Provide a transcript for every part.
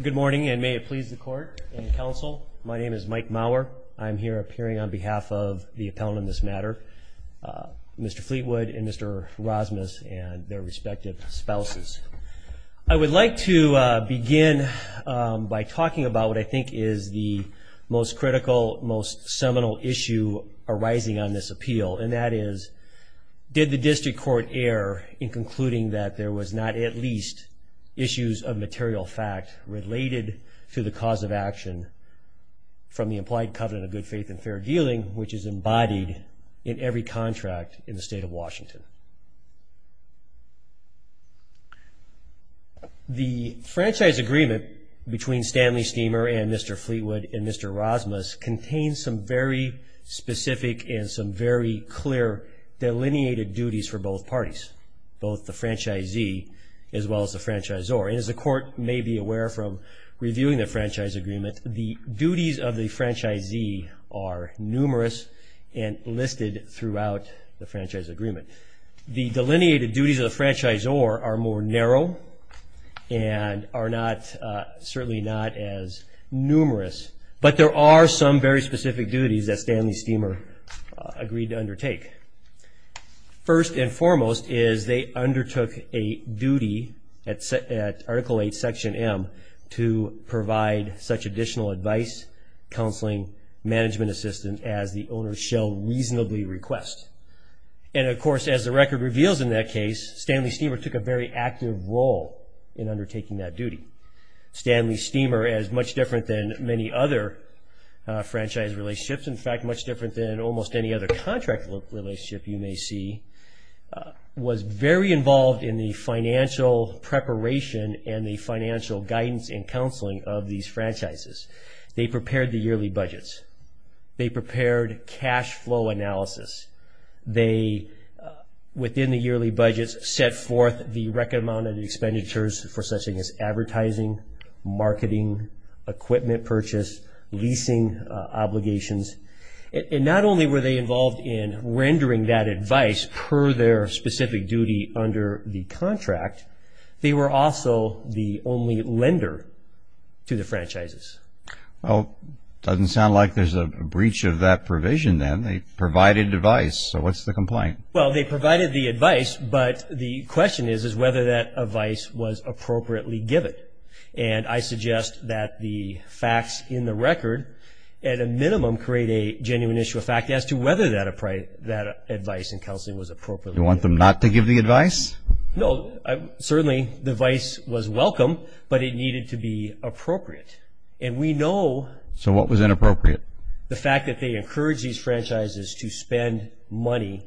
Good morning and may it please the court and counsel. My name is Mike Mauer. I'm here appearing on behalf of the appellant in this matter, Mr. Fleetwood and Mr. Rosmus and their respective spouses. I would like to begin by talking about what I think is the most critical, most seminal issue arising on this appeal and that is did the district court err in concluding that there was not at least issues of material fact related to the cause of action from the implied covenant of good faith and fair dealing, which is embodied in every contract in the state of Washington. The franchise agreement between Stanley Steamer and Mr. Fleetwood and Mr. Rosmus contains some very specific and some very clear delineated duties for both parties, both the franchisee as well as the franchisor. As the court may be aware from reviewing the franchise agreement, the duties of the franchisee are numerous and listed throughout the franchise agreement. The delineated duties of the franchisor are more narrow and are not certainly not as numerous, but there are some very specific duties that Stanley Steamer agreed to undertake. First and foremost is they undertook a duty at article 8 section M to provide such additional advice, counseling, management assistance as the owner shall reasonably request. And of course as the record reveals in that case, Stanley Steamer took a very active role in undertaking that duty. Stanley Steamer is much different than many other franchise relationships, in fact much different than almost any other contract relationship you may see, was very involved in the financial preparation and the financial guidance and counseling of these franchises. They prepared the yearly budgets. They prepared cash flow analysis. They, within the yearly budgets, set forth the recommended expenditures for such things as advertising, marketing, equipment purchase, leasing obligations. And not only were they involved in rendering that advice per their specific duty under the contract, they were also the only lender to the franchises. Well, doesn't sound like there's a breach of that provision then. They provided advice, so what's the complaint? Well, they provided the advice, but the question is whether that advice was facts in the record, at a minimum create a genuine issue of fact as to whether that advice and counseling was appropriate. You want them not to give the advice? No, certainly the advice was welcome, but it needed to be appropriate. And we know... So what was inappropriate? The fact that they encourage these franchises to spend money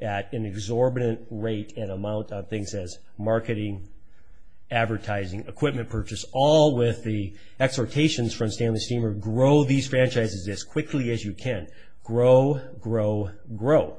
at an exorbitant rate and amount on things as marketing, advertising, equipment purchase, all with the exhortations, for Stanley Steemer, grow these franchises as quickly as you can. Grow, grow, grow.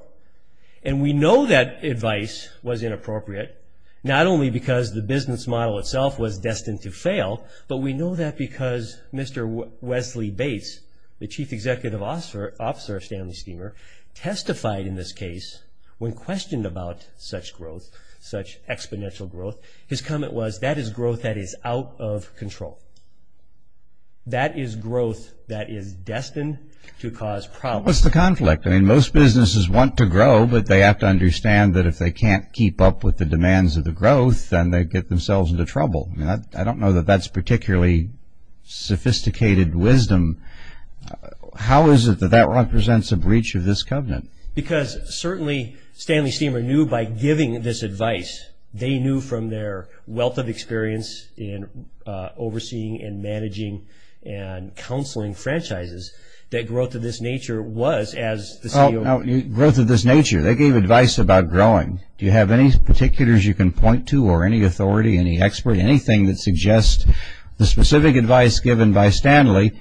And we know that advice was inappropriate, not only because the business model itself was destined to fail, but we know that because Mr. Wesley Bates, the chief executive officer of Stanley Steemer, testified in this case when questioned about such growth, such exponential growth. His comment was, that is growth that is out of control. That is growth that is destined to cause problems. What's the conflict? I mean, most businesses want to grow, but they have to understand that if they can't keep up with the demands of the growth, then they get themselves into trouble. I don't know that that's particularly sophisticated wisdom. How is it that that represents a breach of this covenant? Because certainly Stanley Steemer knew by giving this advice, they knew from their wealth of experience in overseeing and managing and counseling franchises, that growth of this nature was, as the CEO... Growth of this nature. They gave advice about growing. Do you have any particulars you can point to, or any authority, any expert, anything that suggests the specific advice given by Stanley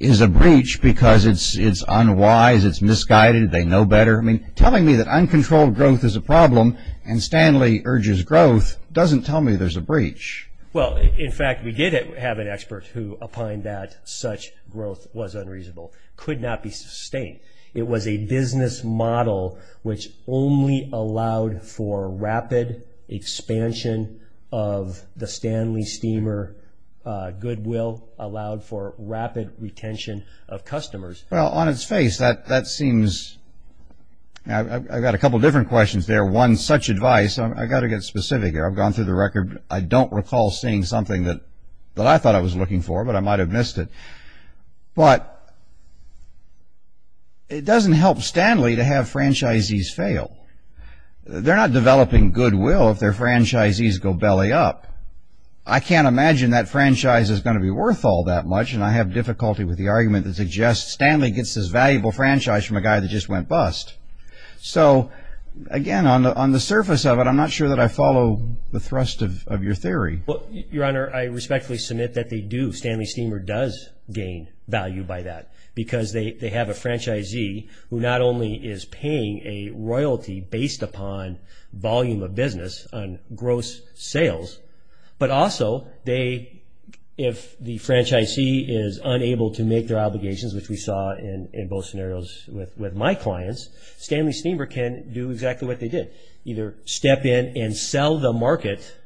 is a breach because it's unwise, it's misguided, they know better. I mean, telling me that uncontrolled growth is a problem and Stanley urges growth doesn't tell me there's a breach. Well, in fact, we did have an expert who opined that such growth was unreasonable, could not be sustained. It was a business model which only allowed for rapid expansion of the Stanley Steemer goodwill, allowed for rapid retention of customers. Well, on its face, that seems... I've got a couple different questions there. One, such advice... I've got to get specific here. I've gone through the record. I don't recall seeing something that I thought I was looking for, but I might have missed it. But it doesn't help Stanley to have franchisees fail. They're not developing goodwill if their franchisees go belly up. I can't imagine that franchise is going to be worth all that much, and I have difficulty with the argument that suggests Stanley gets his valuable franchise from a guy that just went bust. So, again, on the surface of it, I'm not sure that I follow the thrust of your theory. Your Honor, I respectfully submit that they do. Stanley Steemer does gain value by that, because they have a franchisee who not only is paying a royalty based upon volume of business on gross sales, but also they... if the franchisee is unable to make their sales with my clients, Stanley Steemer can do exactly what they did. Either step in and sell the market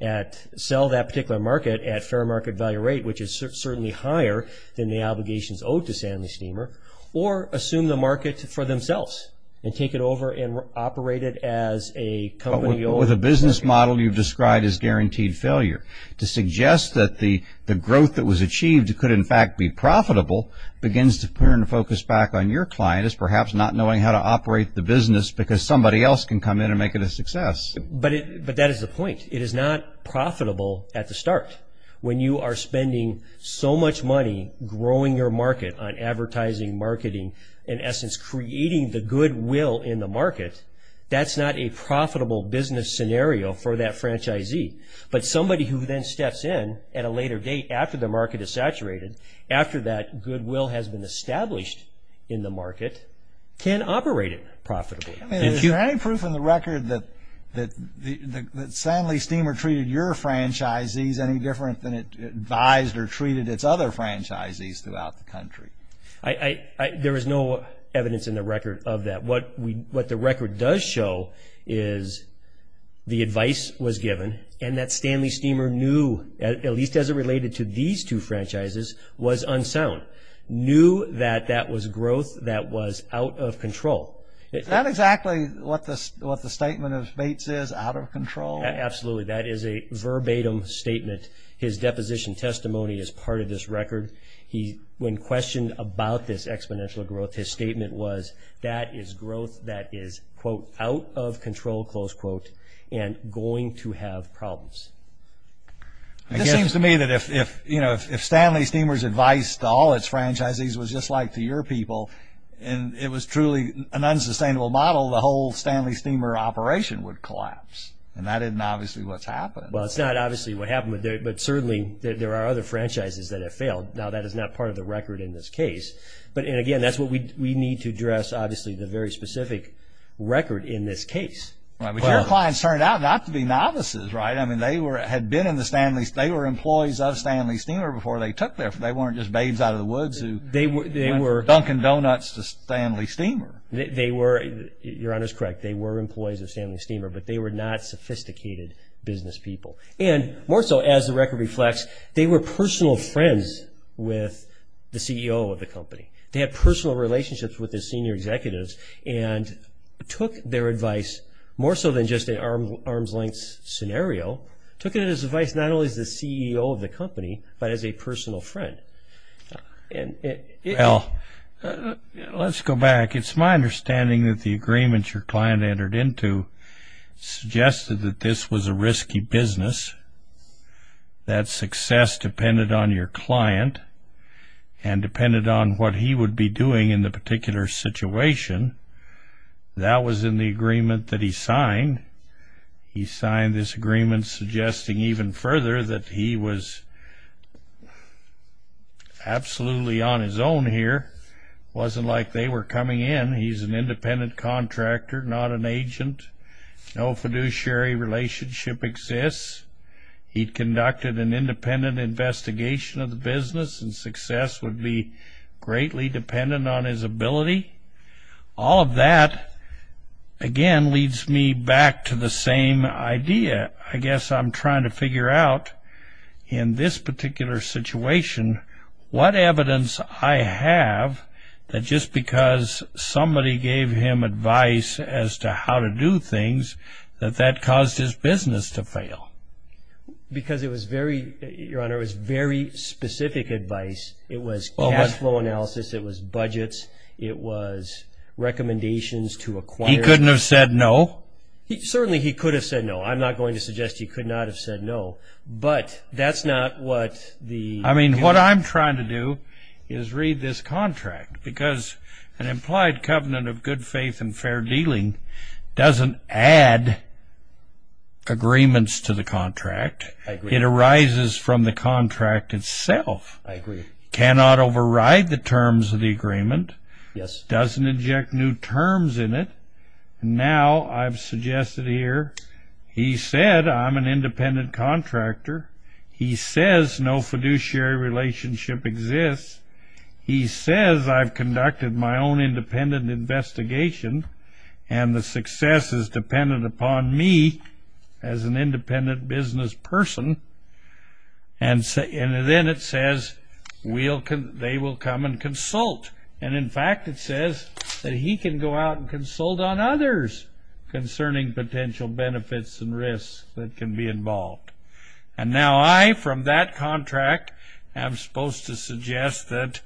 at... sell that particular market at fair market value rate, which is certainly higher than the obligations owed to Stanley Steemer, or assume the market for themselves and take it over and operate it as a company... With a business model you've described as guaranteed failure. To suggest that the growth that was achieved could in fact be profitable begins to turn focus back on your client as perhaps not knowing how to operate the business because somebody else can come in and make it a success. But that is the point. It is not profitable at the start. When you are spending so much money growing your market on advertising, marketing, in essence creating the goodwill in the market, that's not a profitable business scenario for that franchisee. But somebody who then steps in at a later date after the market is changed in the market can operate it profitably. Is there any proof in the record that Stanley Steemer treated your franchisees any different than it advised or treated its other franchisees throughout the country? There is no evidence in the record of that. What the record does show is the advice was given and that Stanley Steemer knew, at least as it related to these two franchises, was unsound. He knew that that was growth that was out of control. Is that exactly what the statement of Bates is? Out of control? Absolutely. That is a verbatim statement. His deposition testimony is part of this record. When questioned about this exponential growth, his statement was that is growth that is quote out of control close quote and going to have problems. It seems to me that if you know if Stanley Steemer's advice to all its franchisees was just like to your people and it was truly an unsustainable model, the whole Stanley Steemer operation would collapse. And that isn't obviously what's happened. Well it's not obviously what happened, but certainly there are other franchises that have failed. Now that is not part of the record in this case, but again that's what we need to address obviously the very specific record in this case. But your clients turned out not to be novices, right? I mean they were had been in the Stanley, they were employees of Stanley Steemer before they took their, they weren't just babes out of the woods who were dunking donuts to Stanley Steemer. They were, your honor is correct, they were employees of Stanley Steemer, but they were not sophisticated business people. And more so as the record reflects, they were personal friends with the CEO of the company. They had personal relationships with the senior executives and took their advice more so than just an arm's-length scenario, took it as advice not only as the CEO of the company, but as a personal friend. Well, let's go back. It's my understanding that the agreements your client entered into suggested that this was a risky business, that success depended on your client, and depended on what he would be doing in the particular situation. That was in the agreement that he signed. He signed this agreement suggesting even further that he was absolutely on his own here. Wasn't like they were coming in. He's an independent contractor, not an agent. No fiduciary relationship exists. He conducted an independent investigation of the business, and success would be greatly dependent on his ability. All of that, again, leads me back to the same idea. I guess I'm trying to figure out, in this particular situation, what evidence I have that just because somebody gave him advice as to how to do things, that that was very specific advice. It was cash flow analysis, it was budgets, it was recommendations to acquire... He couldn't have said no? Certainly he could have said no. I'm not going to suggest he could not have said no, but that's not what the... I mean, what I'm trying to do is read this contract, because an implied covenant of good faith and fair dealing doesn't add agreements to the contract. It arises from the contract itself. I agree. Cannot override the terms of the agreement. Yes. Doesn't inject new terms in it. Now, I've suggested here, he said I'm an independent contractor. He says no fiduciary relationship exists. He says I've conducted my own independent investigation, and the success is I'm an independent business person, and then it says they will come and consult, and in fact it says that he can go out and consult on others concerning potential benefits and risks that can be involved. And now I, from that contract, am supposed to suggest that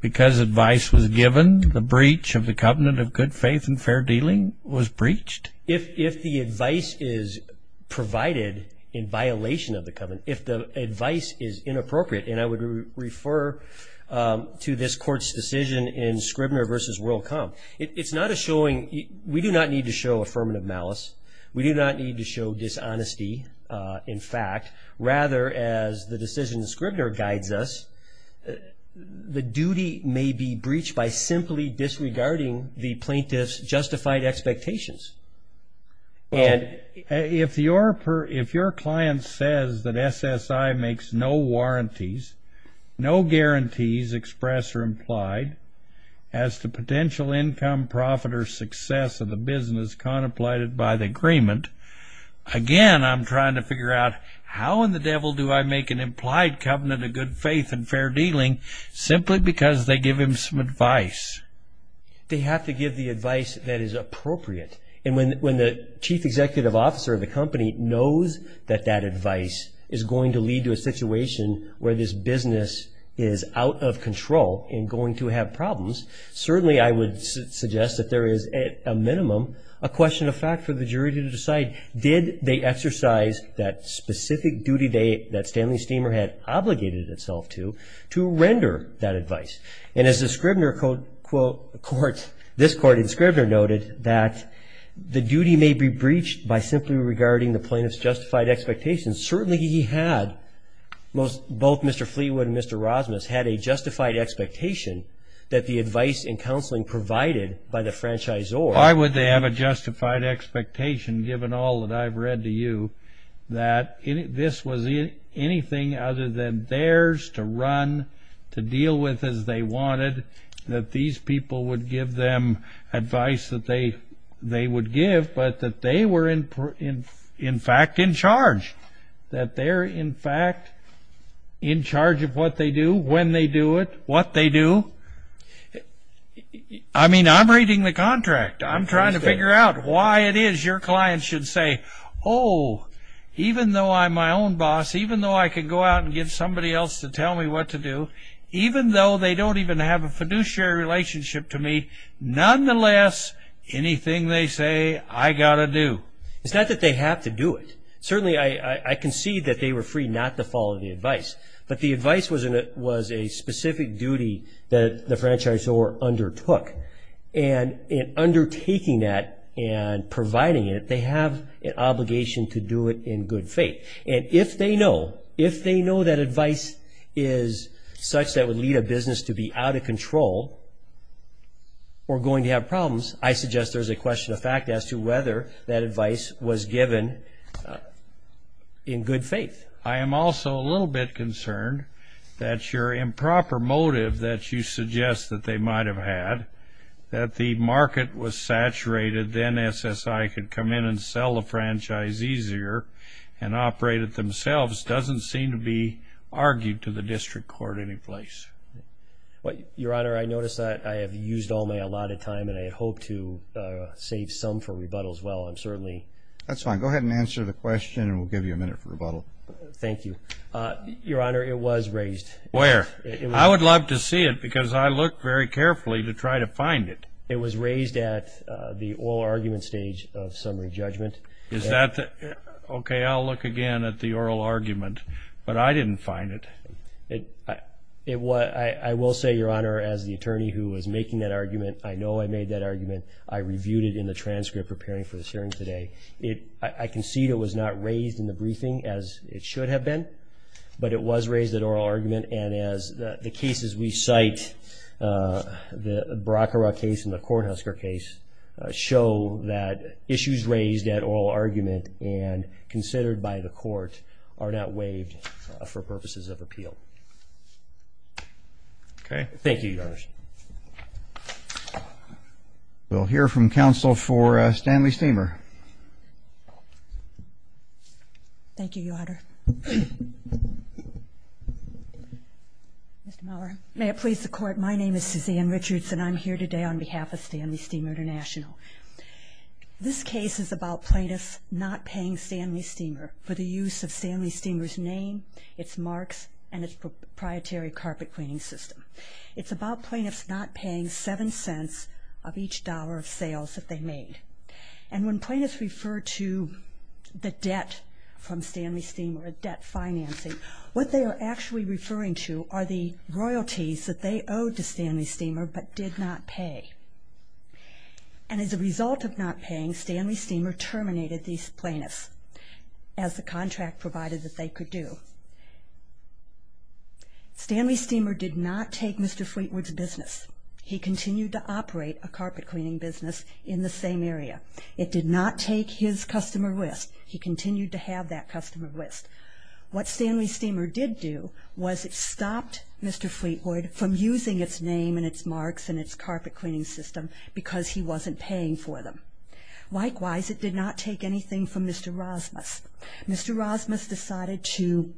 because advice was given, the breach of the covenant of good faith and fair dealing was breached? If the advice is provided in violation of the covenant, if the advice is inappropriate, and I would refer to this court's decision in Scribner v. WorldCom, it's not a showing... We do not need to show affirmative malice. We do not need to show dishonesty, in fact. Rather, as the decision in Scribner guides us, the duty may be breached by simply disregarding the plaintiff's justified expectations. And if your client says that SSI makes no warranties, no guarantees expressed or implied, as to potential income, profit, or success of the business contemplated by the agreement, again I'm trying to figure out how in the devil do I make an implied covenant of good faith and fair dealing simply because they give him some advice. They have to give the advice that is appropriate. And when the chief executive officer of the company knows that that advice is going to lead to a situation where this business is out of control and going to have problems, certainly I would suggest that there is, at a minimum, a question of fact for the jury to decide. Did they exercise that specific duty that Stanley Steemer had obligated itself to, to render that advice? And as the Scribner court, this court in Scribner noted, that the duty may be breached by simply regarding the plaintiff's justified expectations. Certainly he had, both Mr. Fleawood and Mr. Rosmus, had a justified expectation that the advice and counseling provided by the franchisor... Why would they have a justified expectation, given all that I've read to you, that this was anything other than theirs to run, to deal with as they wanted, that these people would give them advice that they would give, but that they were in fact in charge. That they're in fact in charge of what they do, when they do it, what they do. I mean, I'm reading the contract. I'm trying to figure out why it is your client should say, oh, even though I'm my own boss, even though I could go out and get somebody else to tell me what to do, even though they don't even have a fiduciary relationship to me, nonetheless, anything they say, I got to do. It's not that they have to do it. Certainly I concede that they were free not to follow the advice, but the advice was a specific duty that the franchisor undertook. And in undertaking that and providing it, they have an obligation to do it in good faith. And if they know, if they know that advice is such that would lead a business to be out of control or going to have problems, I suggest there's a question of fact as to whether that advice was given in good faith. I am also a little bit concerned that your improper motive that you suggest that they might have had, that the market was saturated, then SSI could come in and sell the franchise easier and operate it themselves, doesn't seem to be argued to the district court any place. Your Honor, I notice that I have used all my allotted time and I hope to save some for rebuttals. Well, I'm certainly... That's fine. Go ahead and answer the question and we'll give you a minute for rebuttal. Thank you. Your Honor, it was raised. Where? I would love to see it because I looked very carefully to try to find it. It was raised at the oral argument stage of summary judgment. Is that the... Okay, I'll look again at the oral argument, but I didn't find it. I will say, Your Honor, as the attorney who was making that argument, I know I made that argument. I reviewed it in the transcript preparing for this hearing today. I concede it was not raised in the briefing as it should have been, but it was raised at oral argument and as the cases we cite, the Bracara case and the Kornhusker case, show that issues raised at oral argument and considered by the court are not waived for purposes of appeal. Okay? Thank you, Your Honor. We'll hear from counsel for Stanley Steamer. Thank you, Your Honor. Mr. Miller. May it please the court, my name is Suzanne Richards and I'm here today on behalf of Stanley Steamer International. This case is about plaintiffs not paying Stanley Steamer for the use of Stanley Steamer's name, its marks, and its proprietary carpet cleaning system. It's about plaintiffs not paying seven cents of each dollar of sales that they made. And when plaintiffs refer to the debt from Stanley Steamer, a debt financing, what they are actually referring to are the royalties that they owed to Stanley Steamer but did not pay. And as a result of not paying, Stanley Steamer terminated these plaintiffs as the contract provided that they could do. Stanley Steamer did not take Mr. Fleetwood's business. He continued to operate a carpet cleaning business in the same area. It did not take his customer list. He continued to have that customer list. What Stanley Steamer did do was it stopped Mr. Fleetwood from using its name and its marks and its carpet cleaning system because he wasn't paying for them. Likewise, it did not take anything from Mr. Rasmus. Mr. Rasmus decided to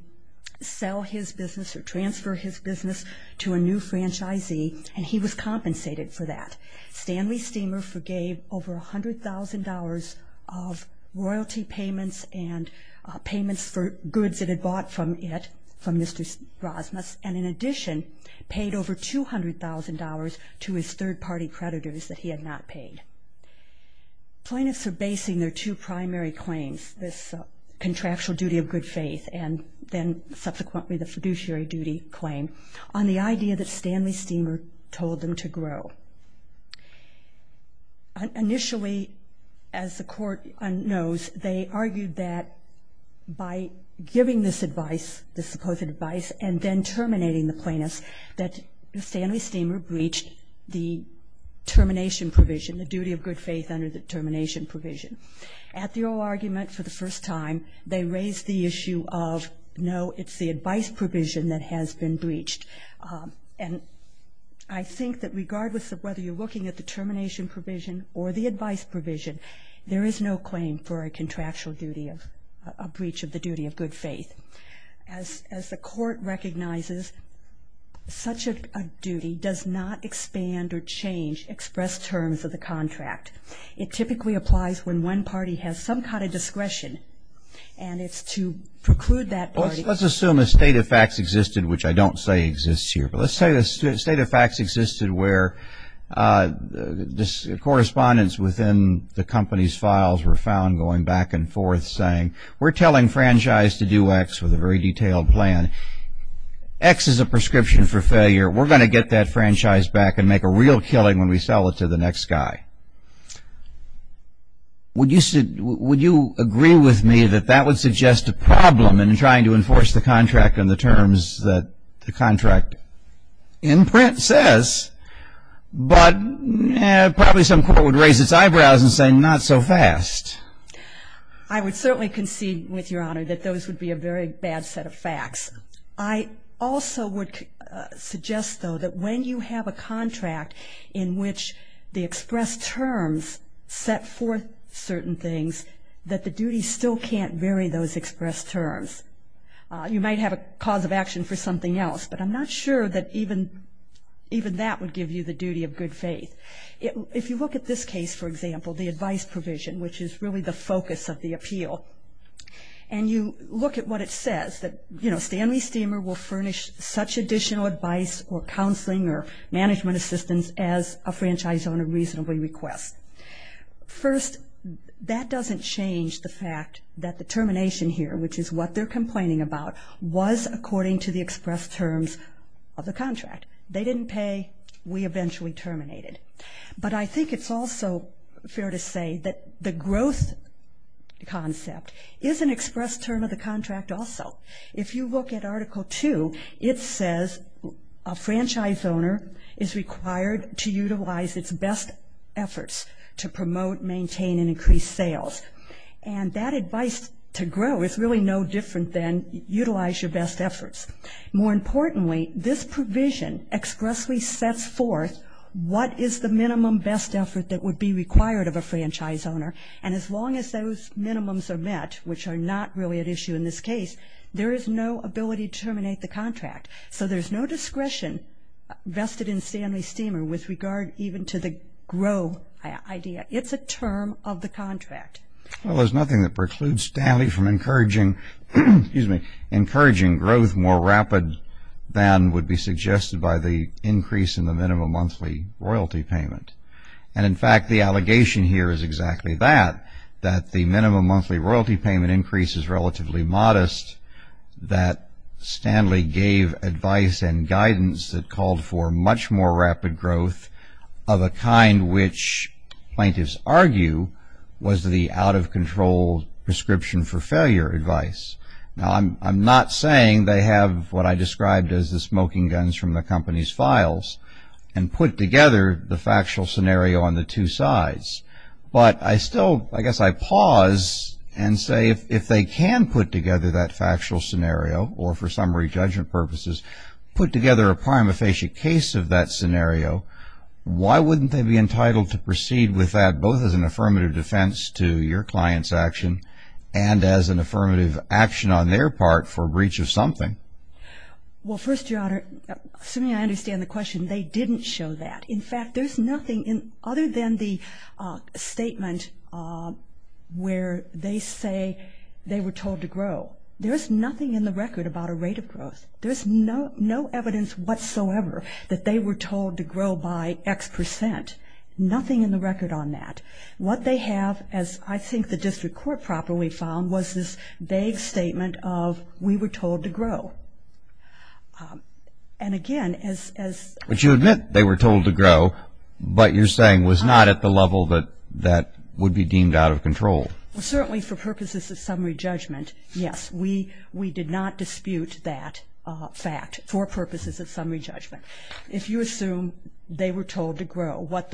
sell his business or transfer his business to a new franchisee and he was compensated for that. Stanley Steamer forgave over $100,000 of royalty payments and payments for goods it had bought from it, from Mr. Rasmus, and in addition paid over $200,000 to his third-party creditors that he had not paid. Plaintiffs are basing their two primary claims, this contractual duty of good faith and then subsequently the area that Stanley Steamer told them to grow. Initially, as the court knows, they argued that by giving this advice, the supposed advice, and then terminating the plaintiffs that Stanley Steamer breached the termination provision, the duty of good faith under the termination provision. At the oral argument for the first time, they raised the issue of no, it's the advice provision that has been terminated. And I think that regardless of whether you're looking at the termination provision or the advice provision, there is no claim for a contractual duty of, a breach of the duty of good faith. As the court recognizes, such a duty does not expand or change expressed terms of the contract. It typically applies when one party has some kind of discretion and it's to preclude that party. Let's assume a state of facts existed, which I don't say exists here, but let's say a state of facts existed where this correspondence within the company's files were found going back and forth saying, we're telling franchise to do X with a very detailed plan. X is a prescription for failure. We're going to get that franchise back and make a real killing when we sell it to the next guy. Would you agree with me that that would suggest a problem in trying to enforce the contract and the terms that the contract in print says? But probably some court would raise its eyebrows and say, not so fast. I would certainly concede with Your Honor that those would be a very bad set of facts. I also would suggest, though, that when you have a contract in which the expressed terms set forth certain things, that the duty still can't vary those expressed terms. You might have a cause of action for something else, but I'm not sure that even that would give you the duty of good faith. If you look at this case, for example, the advice provision, which is really the focus of the appeal, and you look at what it says, that Stanley Steemer will furnish such additional advice or counseling or management assistance as a franchise owner reasonably requests. First, that doesn't change the fact that the termination here, which is what they're complaining about, was according to the expressed terms of the contract. They didn't pay. We eventually terminated. But I think it's also fair to say that the growth concept is an expressed term of the contract also. If you look at Article 2, it says a franchise owner is required to utilize best efforts to promote, maintain, and increase sales. And that advice to grow is really no different than utilize your best efforts. More importantly, this provision expressly sets forth what is the minimum best effort that would be required of a franchise owner. And as long as those minimums are met, which are not really at issue in this case, there is no ability to terminate the contract. So there's no discretion vested in Stanley Steemer with regard even to the grow idea. It's a term of the contract. Well, there's nothing that precludes Stanley from encouraging growth more rapid than would be suggested by the increase in the minimum monthly royalty payment. And in fact, the allegation here is exactly that, that the minimum monthly royalty payment increase is relatively modest, that Stanley gave advice and guidance that called for much more rapid growth of a kind which plaintiffs argue was the out-of-control prescription for failure advice. Now, I'm not saying they have what I described as the smoking guns from the company's files and put together the factual scenario on the two sides. But I still, I guess I pause and say if they can put together that factual scenario, or for summary judgment purposes, put together a prima facie case of that scenario, why wouldn't they be entitled to proceed with that both as an affirmative defense to your client's action and as an affirmative action on their part for breach of something? Well, first, Your Honor, assuming I understand the question, they didn't show that. In fact, there's nothing other than the statement where they say they were told to grow by X percent. Nothing in the record on that. What they have, as I think the district court properly found, was this vague statement of, we were told to grow. And again, as... But you admit they were told to grow, but you're saying was not at the level that that would be deemed out of control. Certainly for purposes of summary judgment, yes, we did not dispute that fact for purposes of summary judgment. If you assume they were told to grow, what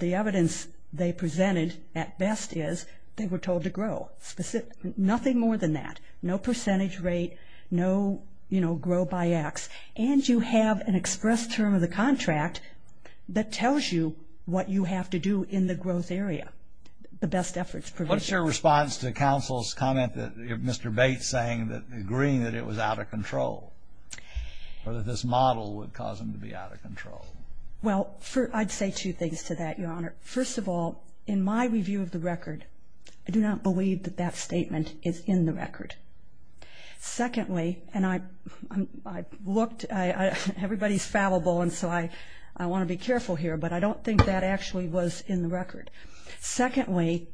the evidence they presented at best is they were told to grow. Nothing more than that. No percentage rate, no, you know, grow by X. And you have an express term of the contract that tells you what you have to do in the growth area. The best What's your response to counsel's comment that Mr. Bates saying that agreeing that it was out of control, or that this model would cause them to be out of control? Well, I'd say two things to that, Your Honor. First of all, in my review of the record, I do not believe that that statement is in the record. Secondly, and I looked, everybody's fallible, and so I want to be careful here, but I don't think that actually was in the record. Secondly,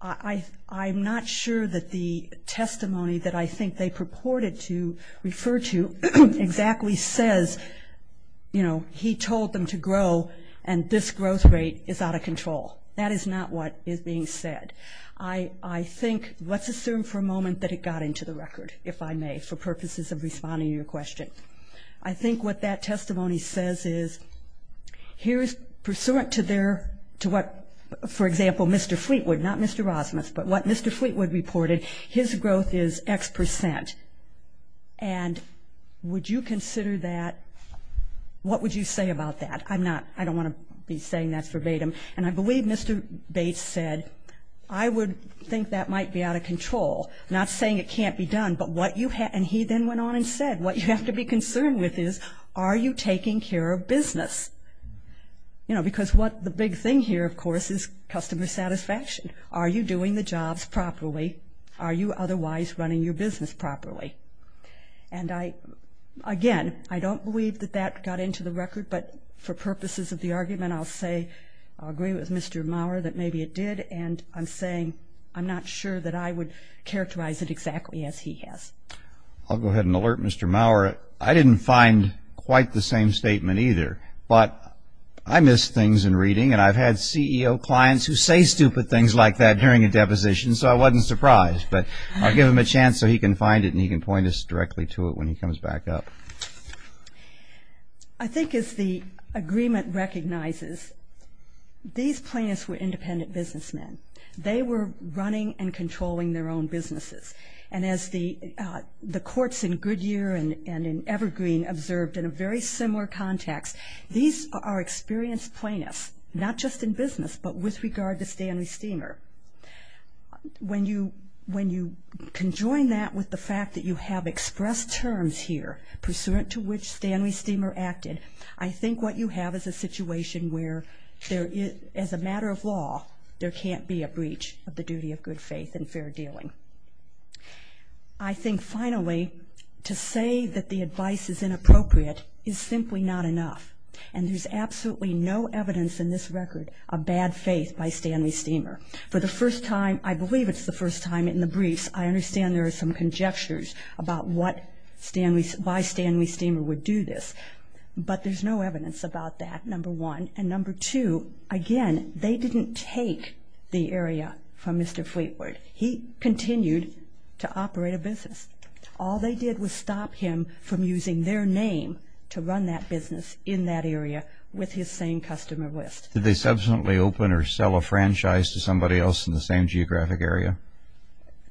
I'm not sure that the testimony that I think they purported to refer to exactly says, you know, he told them to grow and this growth rate is out of control. That is not what is being said. I think let's assume for a moment that it got into the record, if I may, for purposes of pursuant to their, to what, for example, Mr. Fleetwood, not Mr. Rosmus, but what Mr. Fleetwood reported, his growth is X percent. And would you consider that? What would you say about that? I'm not, I don't want to be saying that's verbatim. And I believe Mr. Bates said, I would think that might be out of control. Not saying it can't be done, but what you have, and he then went on and you know, because what the big thing here, of course, is customer satisfaction. Are you doing the jobs properly? Are you otherwise running your business properly? And I, again, I don't believe that that got into the record, but for purposes of the argument, I'll say, I'll agree with Mr. Maurer that maybe it did. And I'm saying, I'm not sure that I would characterize it exactly as he has. I'll go ahead and alert Mr. Maurer. I didn't find quite the same statement either, but I miss things in reading. And I've had CEO clients who say stupid things like that during a deposition, so I wasn't surprised. But I'll give him a chance so he can find it and he can point us directly to it when he comes back up. I think as the agreement recognizes, these plaintiffs were independent businessmen. They were running and controlling their own businesses. And as the courts in Goodyear and in Evergreen observed in a very similar context, these are experienced plaintiffs, not just in business, but with regard to Stanley Steemer. When you conjoin that with the fact that you have expressed terms here pursuant to which Stanley Steemer acted, I think what you have is a situation where, as a matter of law, there can't be a breach of the duty of good faith and fair dealing. I think, finally, to say that the advice is inappropriate is simply not enough. And there's absolutely no evidence in this record of bad faith by Stanley Steemer. For the first time, I believe it's the first time in the briefs, I understand there are some conjectures about why Stanley Steemer would do this. But there's no evidence about that, number one. And number two, again, they didn't take the area from Mr. Fleetwood. He continued to operate a business. All they did was stop him from using their name to run that business in that area with his same customer list. Did they subsequently open or sell a franchise to somebody else in the same geographic area?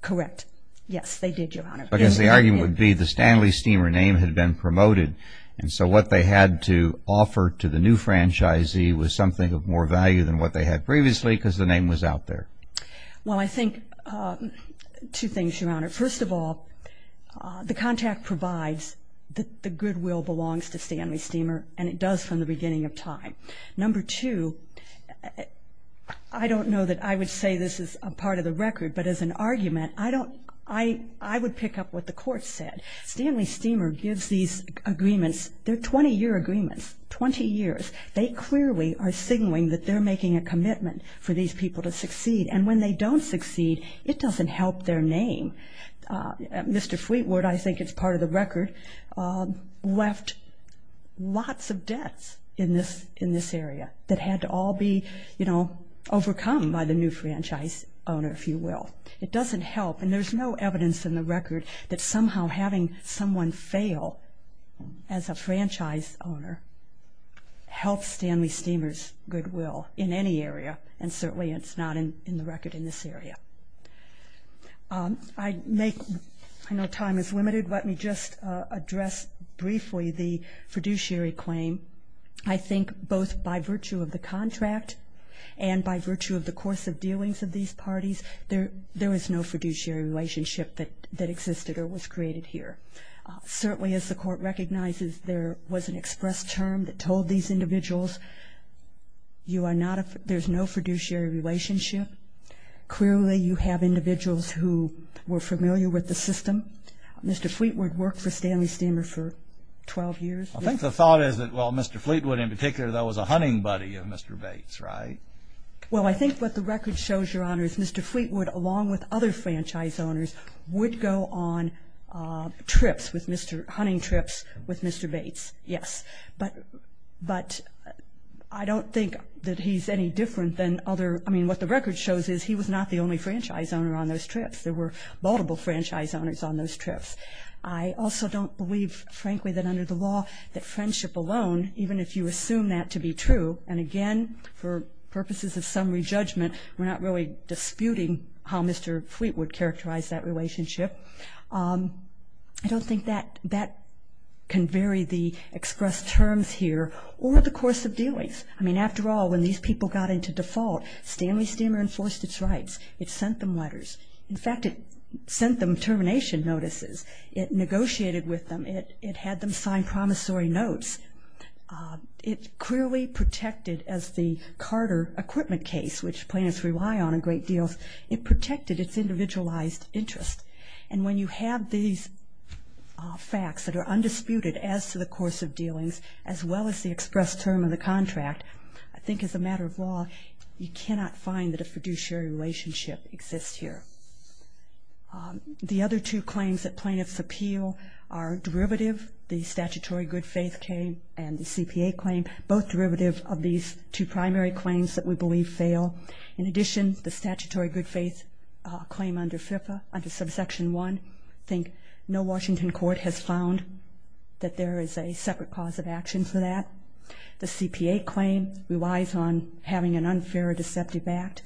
Correct. Yes, they did, Your Honor. Because the argument would be the Stanley Steemer name had been promoted. And so what they had to offer to the new franchisee was something of more value than what they had previously because the name was out there. Well, I think two things, Your Honor. First of all, the contract provides that the goodwill belongs to Stanley Steemer, and it does from the beginning of time. Number two, I don't know that I would say this is a part of the record, but as an argument, I don't, I would pick up what the court said. Stanley Steemer gives these agreements, they're 20-year agreements, 20 years. They clearly are a commitment for these people to succeed. And when they don't succeed, it doesn't help their name. Mr. Fleetwood, I think it's part of the record, left lots of debts in this area that had to all be, you know, overcome by the new franchise owner, if you will. It doesn't help. And there's no evidence in the record that somehow having someone fail as a franchise owner helps Stanley Steemer's goodwill in any area, and certainly it's not in the record in this area. I know time is limited, but let me just address briefly the fiduciary claim. I think both by virtue of the contract and by virtue of the course of dealings of these parties, there was no fiduciary relationship that existed or was created here. Certainly, as the court recognizes, there was an express term that told these individuals, there's no fiduciary relationship. Clearly, you have individuals who were familiar with the system. Mr. Fleetwood worked for Stanley Steemer for 12 years. I think the thought is that, well, Mr. Fleetwood in particular, though, was a hunting buddy of Mr. Bates, right? Well, I think what the record shows, Your Honor, is Mr. Fleetwood, along with other franchise owners, would go on hunting trips with Mr. Bates, yes. But I don't think that he's any different than other... I mean, what the record shows is he was not the only franchise owner on those trips. There were multiple franchise owners on those trips. I also don't believe, frankly, that under the law that friendship alone, even if you assume that to be true, and again, for purposes of summary judgment, we're not really disputing how Mr. Fleetwood characterized that relationship. I don't think that can vary the express terms here or the course of dealings. I mean, after all, when these people got into default, Stanley Steemer enforced its rights. It sent them letters. In fact, it sent them termination notices. It negotiated with them. It had them sign promissory notes. It clearly protected, as the Carter equipment case, which plaintiffs rely on a great deal, it protected its individualized interest. And when you have these facts that are undisputed as to the course of dealings, as well as the express term of the contract, I think as a matter of law, you cannot find that a fiduciary relationship exists here. The other two claims that plaintiffs appeal are derivative, the statutory good faith claim and the CPA claim, both derivative of these two primary claims that we believe fail. In addition, the statutory good faith claim under FFIPA, under subsection one, I think no Washington court has found that there is a separate cause of action for that. The CPA claim relies on having an unfair deceptive act,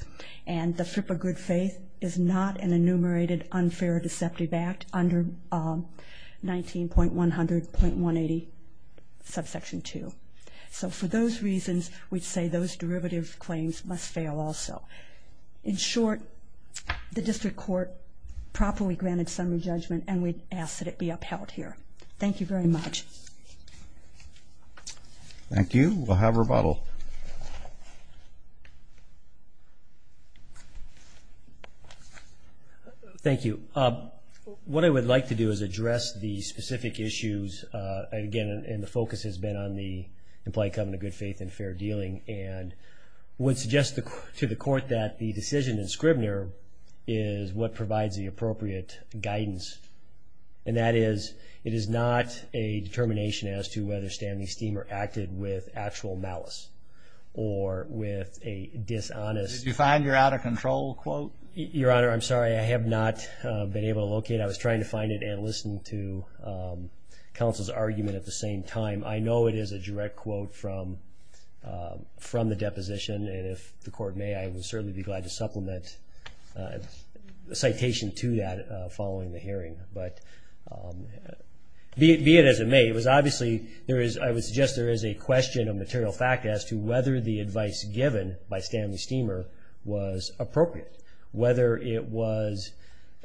and the FFIPA good faith is not an enumerated unfair deceptive act under 19.100.180, subsection two. So for those reasons, we'd say those derivative claims must fail also. In short, the district court properly granted summary judgment, and we ask that it be upheld here. Thank you very much. Thank you. We'll have rebuttal. Thank you. What I would like to do is address the specific issues, again, and focus has been on the implied covenant of good faith and fair dealing, and would suggest to the court that the decision in Scribner is what provides the appropriate guidance. And that is, it is not a determination as to whether Stanley Steemer acted with actual malice or with a dishonest... Did you find your out of control quote? Your Honor, I'm sorry. I have not been able to locate. I was trying to find it and listen to counsel's argument at the same time. I know it is a direct quote from the deposition, and if the court may, I would certainly be glad to supplement a citation to that following the hearing. But be it as it may, it was obviously, I would suggest there is a question of material fact as to whether the advice given by Stanley Steemer was appropriate, whether it was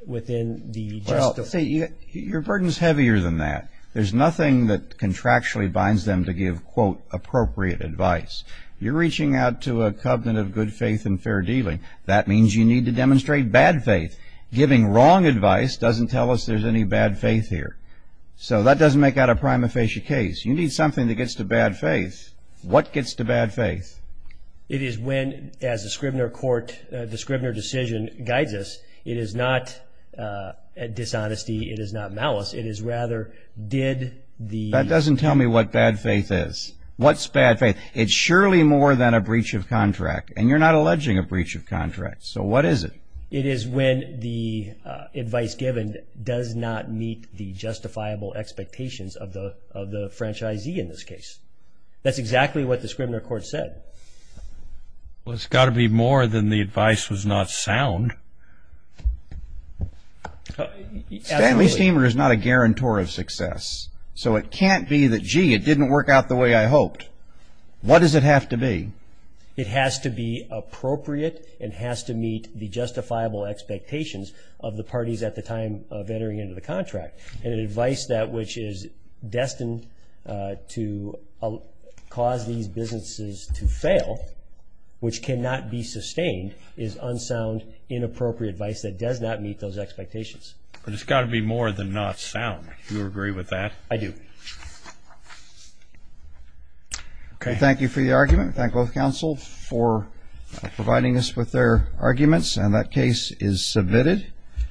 within the justice... Your burden's heavier than that. There's nothing that contractually binds them to give quote appropriate advice. You're reaching out to a covenant of good faith and fair dealing. That means you need to demonstrate bad faith. Giving wrong advice doesn't tell us there's any bad faith here. So that doesn't make out a prima facie case. You need something that gets to bad faith. What gets to bad faith? It is when, as the Scribner Court, the Scribner decision guides us, it is not dishonesty. It is not malice. It is rather, did the... That doesn't tell me what bad faith is. What's bad faith? It's surely more than a breach of contract, and you're not alleging a breach of contract. So what is it? It is when the advice given does not meet the justifiable expectations of the franchisee in this case. That's exactly what the Scribner Court said. Well, it's got to be more than the advice was not sound. Absolutely. Stanley Steemer is not a guarantor of success. So it can't be that, gee, it didn't work out the way I hoped. What does it have to be? It has to be appropriate and has to meet the justifiable expectations of the parties at the time of entering into the contract. And an advice that which is destined to cause these businesses to fail, which cannot be sustained, is unsound, inappropriate advice that does not meet those expectations. But it's got to be more than not sound. Do you agree with that? I do. Okay. Well, thank you for the argument. Thank both counsels for providing us with their arguments. And that case is submitted.